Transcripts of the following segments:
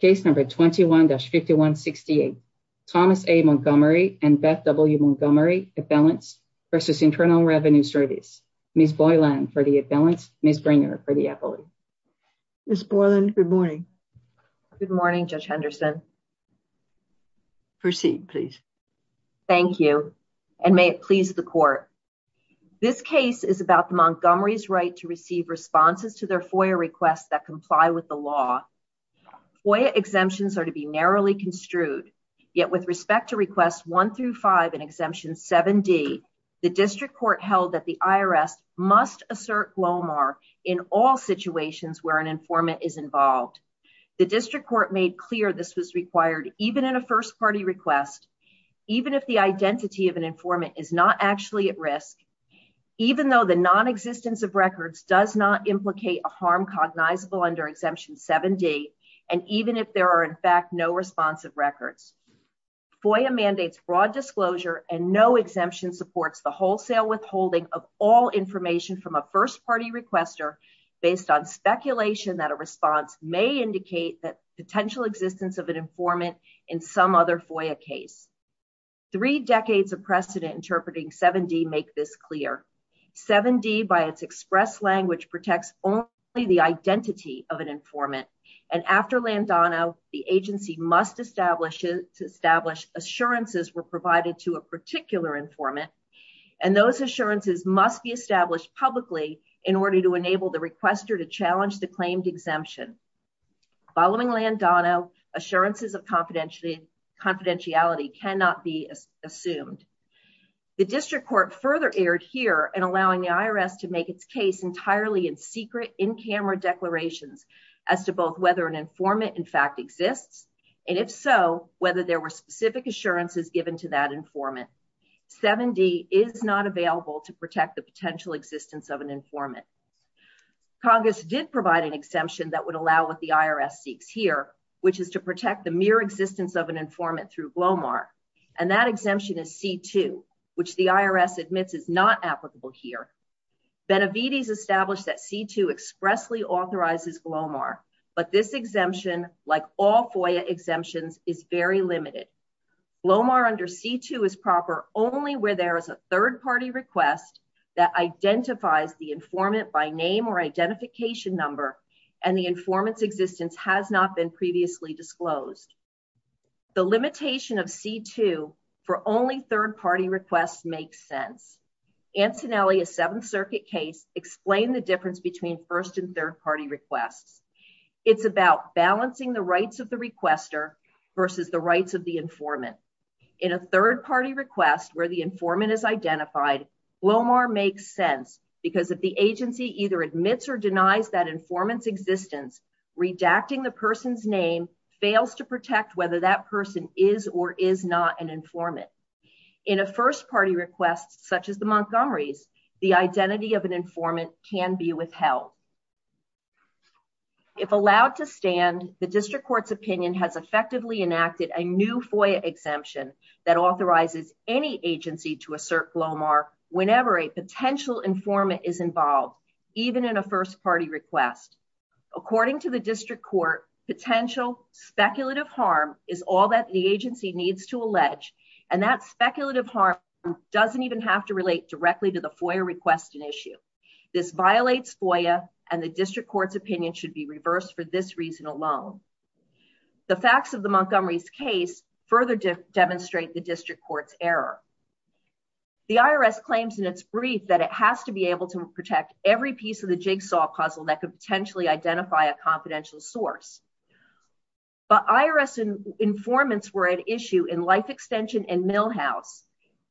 case number 21-5168 thomas a montgomery and beth w montgomery appellants versus internal revenue service miss boyland for the appellants miss bringer for the appellate miss boyland good morning good morning judge henderson proceed please thank you and may it please the court this case is about the montgomery's right to receive responses to their FOIA requests that comply with the law FOIA exemptions are to be narrowly construed yet with respect to requests one through five and exemption 7d the district court held that the IRS must assert glomar in all situations where an informant is involved the district court made clear this was required even in a first party request even if the identity of an informant is not actually at risk even though the non-existence of records does not implicate a harm cognizable under exemption 7d and even if there are in fact no responsive records FOIA mandates broad disclosure and no exemption supports the wholesale withholding of all information from a first party requester based on speculation that a response may indicate that 7d make this clear 7d by its express language protects only the identity of an informant and after landano the agency must establish it to establish assurances were provided to a particular informant and those assurances must be established publicly in order to enable the requester to challenge the claimed exemption following landano assurances of confidentiality confidentiality cannot be assumed the district court further aired here and allowing the IRS to make its case entirely in secret in-camera declarations as to both whether an informant in fact exists and if so whether there were specific assurances given to that informant 7d is not available to protect the potential existence of an informant congress did provide an exemption that would allow what irs seeks here which is to protect the mere existence of an informant through glomar and that exemption is c2 which the irs admits is not applicable here benavides established that c2 expressly authorizes glomar but this exemption like all FOIA exemptions is very limited glomar under c2 is proper only where there is a third party request that identifies the informant by name or identification number and the informant's existence has not been previously disclosed the limitation of c2 for only third party requests makes sense antonelli a seventh circuit case explain the difference between first and third party requests it's about balancing the rights of the requester versus the rights of the informant in a third party request where the informant is either admits or denies that informant's existence redacting the person's name fails to protect whether that person is or is not an informant in a first party request such as the montgomery's the identity of an informant can be withheld if allowed to stand the district court's opinion has effectively enacted a new FOIA exemption that authorizes any agency to assert glomar whenever potential informant is involved even in a first party request according to the district court potential speculative harm is all that the agency needs to allege and that speculative harm doesn't even have to relate directly to the FOIA request an issue this violates FOIA and the district court's opinion should be reversed for this reason alone the facts of the montgomery's case further demonstrate the district court's error the irs claims in its brief that it has to be able to protect every piece of the jigsaw puzzle that could potentially identify a confidential source but irs informants were at issue in life extension and millhouse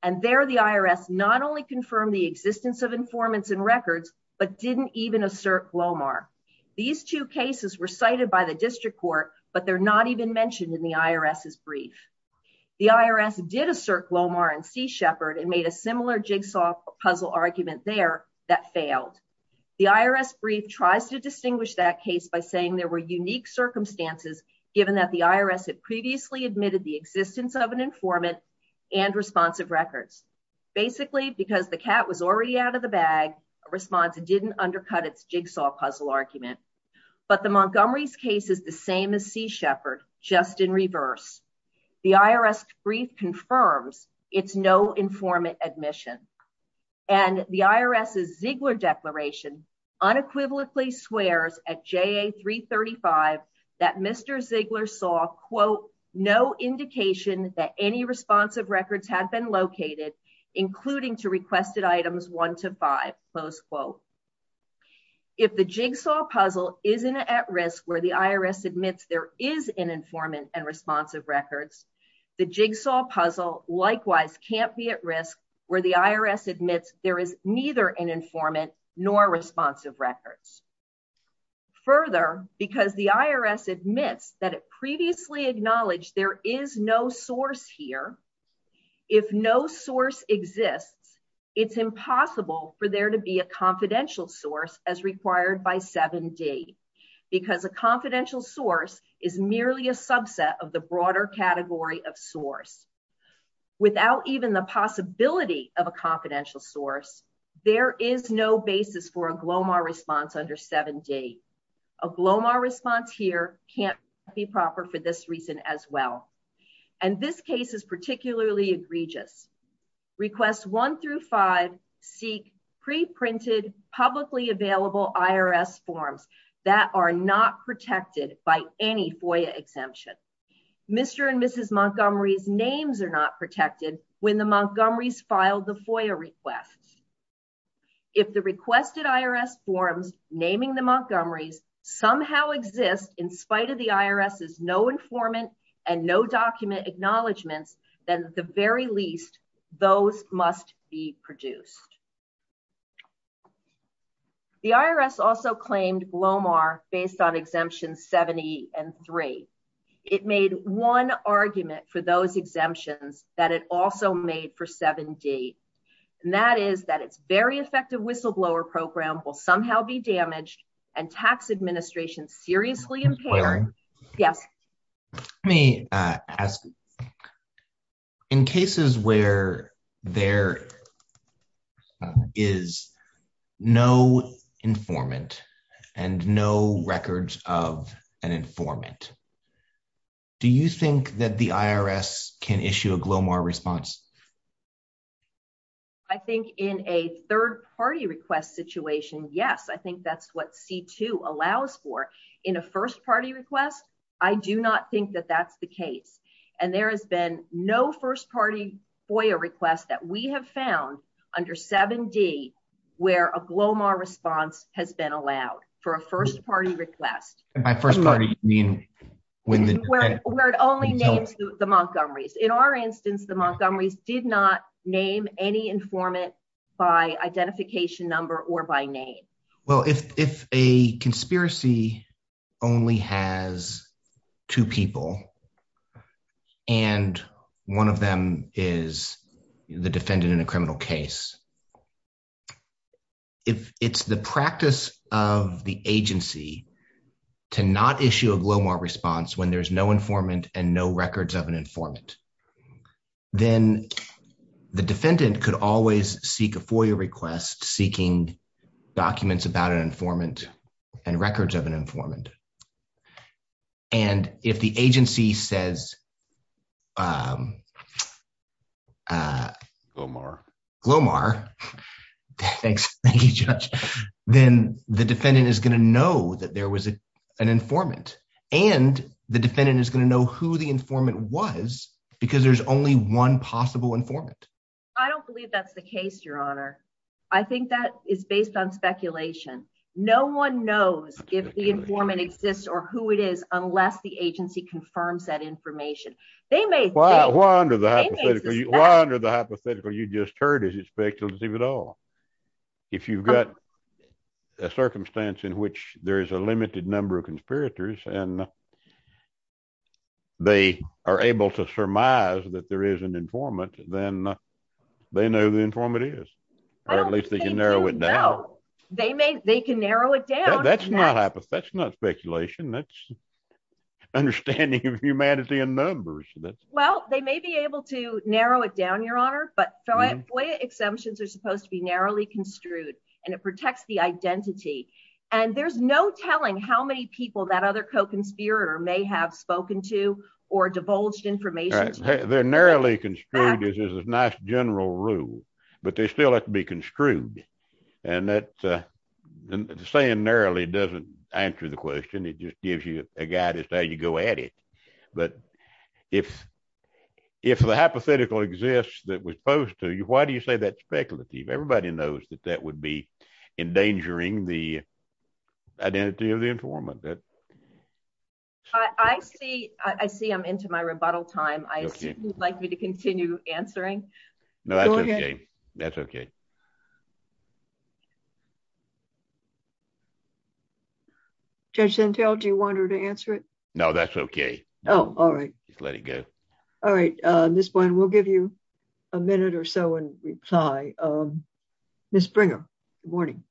and there the irs not only confirmed the existence of informants and records but didn't even assert glomar these two cases were cited by district court but they're not even mentioned in the irs's brief the irs did assert glomar and sea shepherd and made a similar jigsaw puzzle argument there that failed the irs brief tries to distinguish that case by saying there were unique circumstances given that the irs had previously admitted the existence of an informant and responsive records basically because the cat was already out of the bag a response it didn't undercut its jigsaw puzzle argument but the same as sea shepherd just in reverse the irs brief confirms it's no informant admission and the irs's ziegler declaration unequivocally swears at ja335 that mr ziegler saw quote no indication that any responsive records had been located including to requested items one to five close quote if the jigsaw puzzle isn't at risk where the irs admits there is an informant and responsive records the jigsaw puzzle likewise can't be at risk where the irs admits there is neither an informant nor responsive records further because the irs admits that it for there to be a confidential source as required by 7d because a confidential source is merely a subset of the broader category of source without even the possibility of a confidential source there is no basis for a glomar response under 7d a glomar response here can't be proper for as well and this case is particularly egregious requests one through five seek pre-printed publicly available irs forms that are not protected by any foia exemption mr and mrs montgomery's names are not protected when the montgomery's filed the foia request if the requested irs forms naming the montgomery's somehow exist in spite of the irs is no informant and no document acknowledgements then at the very least those must be produced the irs also claimed glomar based on exemptions 70 and three it made one argument for those it's very effective whistleblower program will somehow be damaged and tax administration seriously impaired yes let me ask in cases where there is no informant and no records of an informant do you think that the irs can issue a glomar response i think in a third party request situation yes i think that's what c2 allows for in a first party request i do not think that that's the case and there has been no first party foia request that we have found under 7d where a glomar response has been allowed for a first party request and by first party you mean when the word only names the montgomery's in our instance the montgomery's did not name any informant by identification number or by name well if if a conspiracy only has two people and one of them is the defendant in a criminal case if it's the practice of the agency to not issue a glomar response when there's no informant and no records of an informant then the defendant could always seek a foia request seeking documents about an informant and records of an informant and if the agency says um uh glomar glomar thanks thank you judge then the defendant is going to know that there was an informant and the defendant is going to know who the informant was because there's only one possible informant i don't believe that's the case your honor i think that is based on speculation no one knows if the informant exists or who it is unless the agency confirms that information they may wonder the hypothetical you just heard is it speculative at all if you've got a circumstance in which there is a limited number of conspirators and they are able to surmise that there is an informant then they know the informant is or at least they can narrow it down they may they can narrow it down that's not hypothesis that's not speculation that's understanding of humanity and numbers that's well they may be able to narrow it down your honor but foia exemptions are supposed to be narrowly construed and it protects the identity and there's no telling how many people that other co-conspirator may have spoken to or divulged information they're narrowly construed as a nice general rule but they still have to be construed and that the saying narrowly doesn't answer the question it just gives you a guide as to how you go at it but if if the hypothetical exists that was posed to you why do you say that's speculative everybody knows that that would be endangering the identity of the informant that i i see i see i'm into my rebuttal time i assume you'd like me to continue answering no that's okay that's okay judge gentile do you want her to answer it no that's okay oh all right just let it go all right uh this one we'll give you a minute or so in reply um miss bringer good morning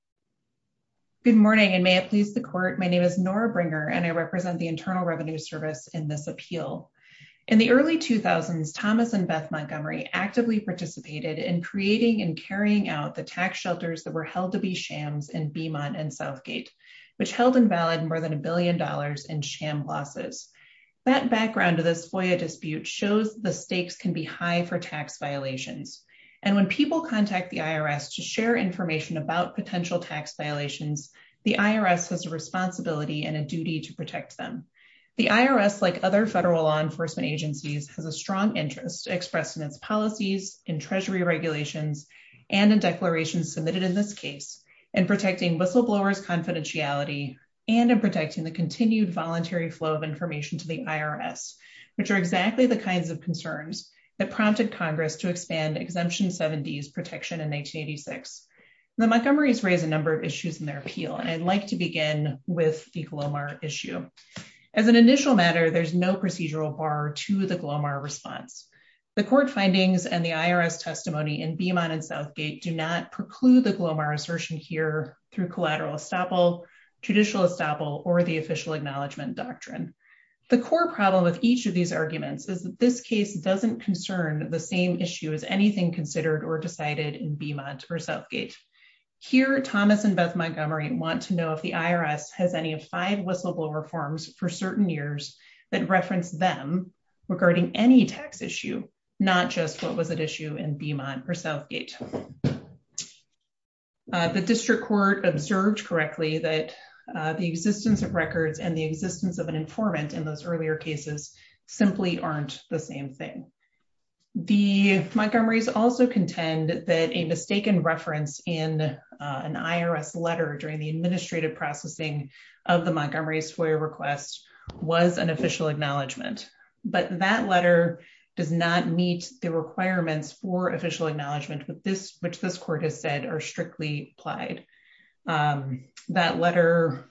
good morning and may it please the court my name is nora bringer and i represent the internal thomas and beth montgomery actively participated in creating and carrying out the tax shelters that were held to be shams in beemont and southgate which held invalid more than a billion dollars in sham losses that background of this foyer dispute shows the stakes can be high for tax violations and when people contact the irs to share information about potential tax violations the irs has a responsibility and a duty to protect them the irs like other federal law enforcement agencies has a strong interest expressed in its policies in treasury regulations and in declarations submitted in this case in protecting whistleblowers confidentiality and in protecting the continued voluntary flow of information to the irs which are exactly the kinds of concerns that prompted congress to expand exemption 70s protection in 1986 the montgomery's raise a number of issues in their appeal and i'd like to begin with the glomar issue as an initial matter there's no procedural bar to the glomar response the court findings and the irs testimony in beemont and southgate do not preclude the glomar assertion here through collateral estoppel judicial estoppel or the official acknowledgement doctrine the core problem with each of these arguments is that this case doesn't concern the same issue as anything considered or decided in beemont or southgate here thomas and beth montgomery want to know if the irs has any of five whistleblower forms for years that reference them regarding any tax issue not just what was at issue in beemont or southgate the district court observed correctly that the existence of records and the existence of an informant in those earlier cases simply aren't the same thing the montgomery's also contend that a mistaken reference in an irs letter during the administrative processing of the montgomery's foyer request was an official acknowledgement but that letter does not meet the requirements for official acknowledgement with this which this court has said are strictly applied that letter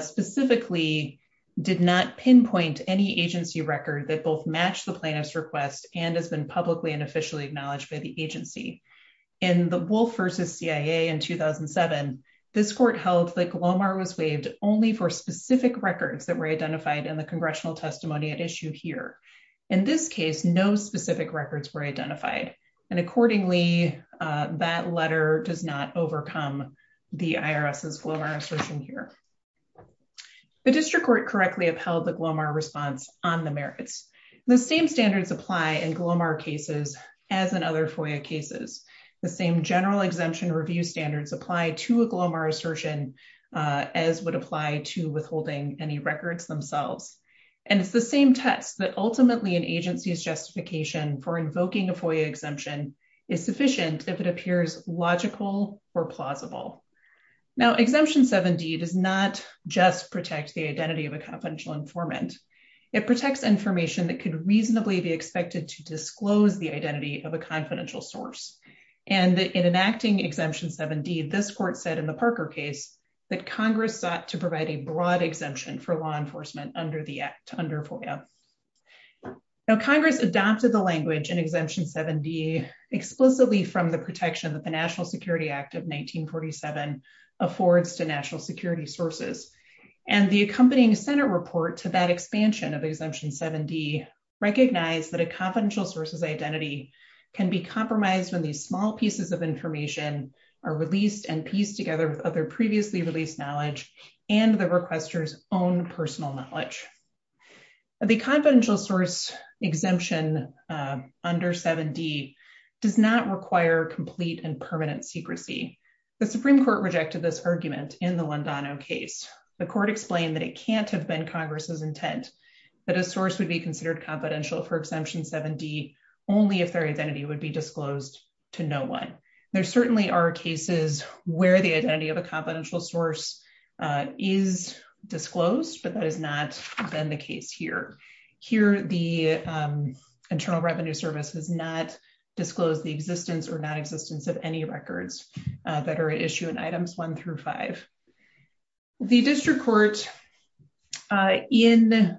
specifically did not pinpoint any agency record that both match the plaintiff's request and has been publicly and officially acknowledged by the agency in the wolf versus cia in 2007 this court held that glomar was waived only for specific records that were identified in the congressional testimony at issue here in this case no specific records were identified and accordingly that letter does not overcome the irs's glomar assertion here the district court correctly upheld the glomar response on the merits the same standards apply in glomar cases as in other foyer cases the same general exemption review standards apply to a glomar assertion as would apply to withholding any records themselves and it's the same test that ultimately an agency's justification for invoking a foyer exemption is sufficient if it appears logical or plausible now exemption 7d does not just protect the identity of a confidential informant it protects information that could reasonably be expected to disclose the identity of a confidential source and in enacting exemption 7d this court said in the parker case that congress sought to provide a broad exemption for law enforcement under the act under foya now congress adopted the language in exemption 7d explicitly from the protection that the national security sources and the accompanying senate report to that expansion of exemption 7d recognize that a confidential source's identity can be compromised when these small pieces of information are released and pieced together with other previously released knowledge and the requester's own personal knowledge the confidential source exemption under 7d does not require complete and permanent secrecy the supreme court rejected this argument in the londono case the court explained that it can't have been congress's intent that a source would be considered confidential for exemption 7d only if their identity would be disclosed to no one there certainly are cases where the identity of a confidential source is disclosed but that has not been the case here here the internal revenue service has not disclosed the existence or non-existence of any records that are at issue in items one through five the district court in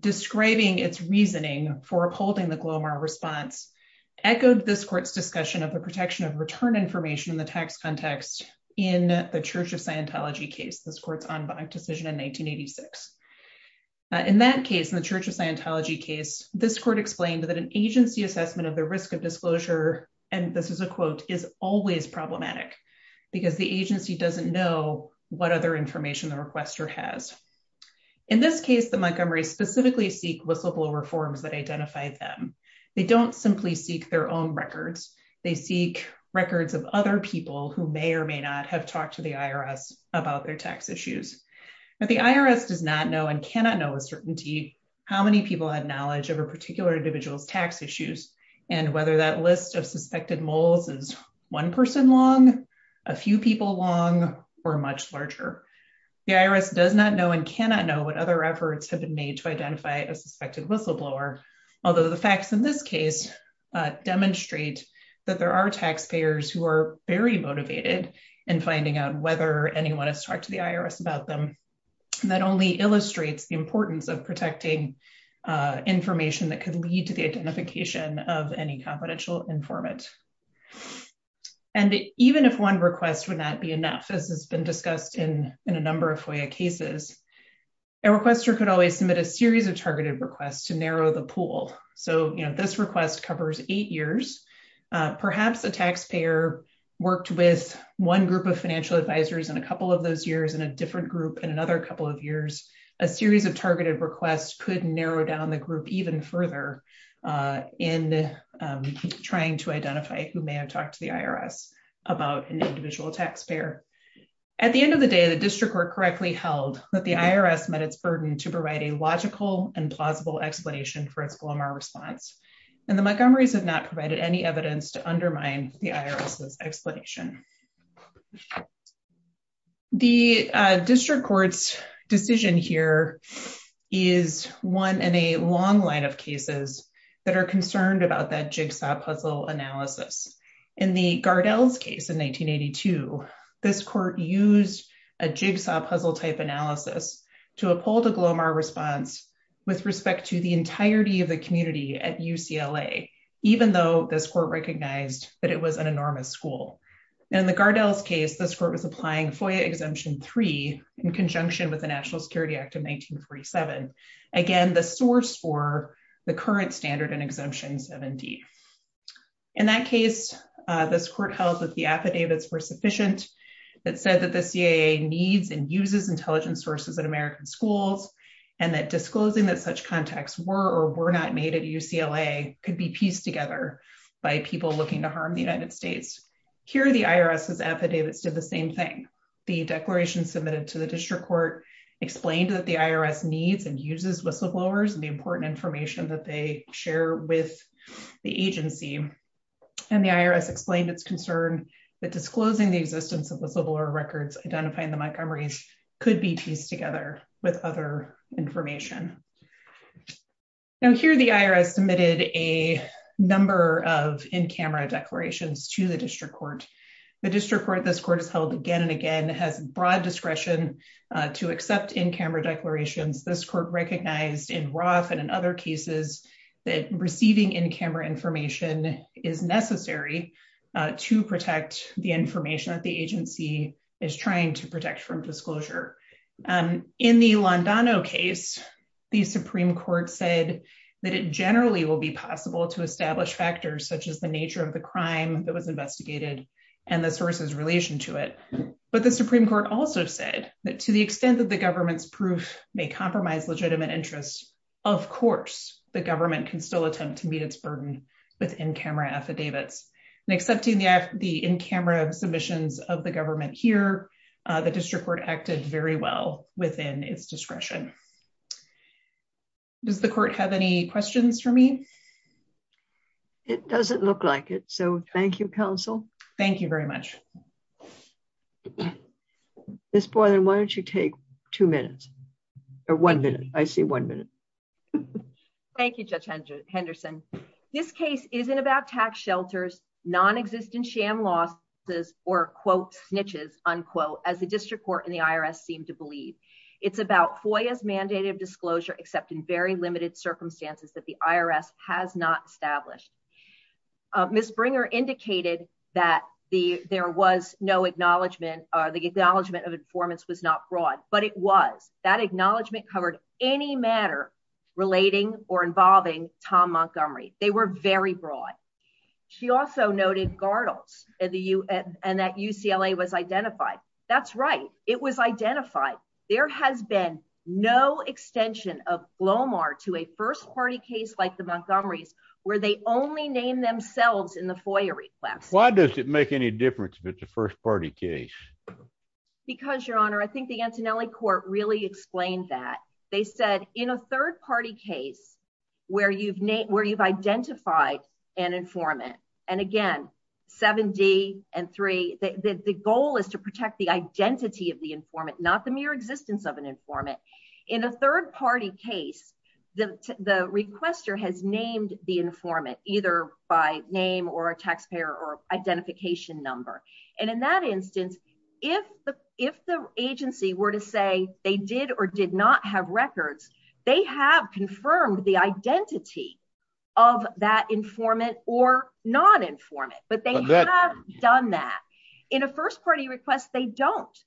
describing its reasoning for upholding the glomer response echoed this court's discussion of the protection of return information in the tax context in the church of scientology case this court's en banc decision in 1986 in that case in the church of scientology case this court explained that an agency assessment of the risk of disclosure and this is a quote is always problematic because the agency doesn't know what other information the requester has in this case the montgomery specifically seek whistleblower forms that identify them they don't simply seek their own records they seek records of other people who may or may not have talked to the irs about their tax issues but the irs does not know and cannot know with certainty how many people had knowledge of a particular individual's tax issues and whether that list of suspected moles is one person long a few people long or much larger the irs does not know and cannot know what other efforts have been made to identify a suspected whistleblower although the facts in this case demonstrate that there are taxpayers who are very motivated in finding out whether anyone has talked to the irs about them that only illustrates the importance of protecting information that could lead to the identification of any confidential informant and even if one request would not be enough as has been discussed in in a number of FOIA cases a requester could always submit a series of targeted requests to narrow the pool so you know this request covers eight years perhaps a taxpayer worked with one group of financial advisors in a couple of those years in a different group in another couple of years a series of targeted requests could narrow down the group even further uh in trying to identify who may have talked to the irs about an individual taxpayer at the end of the day the district were correctly held that the irs met its burden to provide a logical and plausible explanation for its glomar response and the montgomery's have not provided any evidence to undermine the irs's explanation the district court's decision here is one in a long line of cases that are concerned about that jigsaw puzzle analysis in the gardell's case in 1982 this court used a jigsaw puzzle type analysis to uphold a glomar response with respect to the entirety of the community at ucla even though this court recognized that it was an enormous school in the gardell's case this court was applying FOIA exemption 3 in conjunction with the national security act of 1947 again the source for the current standard and exemption 70 in that case this court held that the affidavits were sufficient that said that the caa needs and uses intelligence sources in american schools and that disclosing that such contacts were or were not made at ucla could be pieced together by people looking to harm the united states here the irs's affidavits did the same thing the declaration submitted to the district court explained that the irs needs and uses whistleblowers and the important information that they share with the agency and the irs explained its concern that disclosing the existence of whistleblower records identifying the montgomery's could be pieced together with other information now here the irs submitted a number of in-camera declarations to the district court the district court this court is held again and again has broad discretion to accept in-camera declarations this recognized in roth and in other cases that receiving in-camera information is necessary to protect the information that the agency is trying to protect from disclosure in the londono case the supreme court said that it generally will be possible to establish factors such as the nature of the crime that was investigated and the sources relation to it but the supreme court also said that to the extent that the government's proof may compromise legitimate interests of course the government can still attempt to meet its burden with in-camera affidavits and accepting the the in-camera submissions of the government here the district court acted very well within its discretion does the court have any questions for me it doesn't look like it so thank you thank you very much miss boylan why don't you take two minutes or one minute i see one minute thank you judge henderson this case isn't about tax shelters non-existent sham losses or quote snitches unquote as the district court and the irs seem to believe it's about foy as mandated disclosure except in very limited circumstances that the irs has not established uh miss bringer indicated that the there was no acknowledgement or the acknowledgement of informants was not broad but it was that acknowledgement covered any matter relating or involving tom montgomery they were very broad she also noted gardles and the u and that ucla was identified that's right it was identified there has been no extension of blomar to a first party case like the montgomery's where they only name themselves in the foyer request why does it make any difference if it's a first party case because your honor i think the antonelli court really explained that they said in a third party case where you've named where you've identified an informant and again 7d and 3 the the goal is to protect the identity of the informant not the case the the requester has named the informant either by name or a taxpayer or identification number and in that instance if the if the agency were to say they did or did not have records they have confirmed the identity of that informant or non-informant but they have done that in a first party request they don't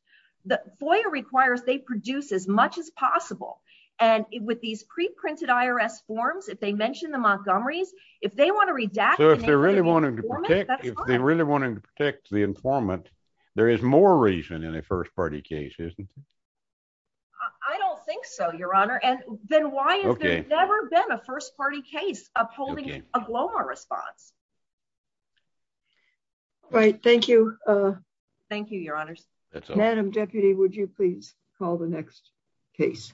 the foyer requires they produce as much as possible and with these pre-printed irs forms if they mention the montgomery's if they want to redact so if they're really wanting to protect if they're really wanting to protect the informant there is more reason in a first party case isn't it i don't think so your honor and then why okay never been a first party case upholding a glomer response all right thank you uh thank you your honors that's madam deputy would you please call the next case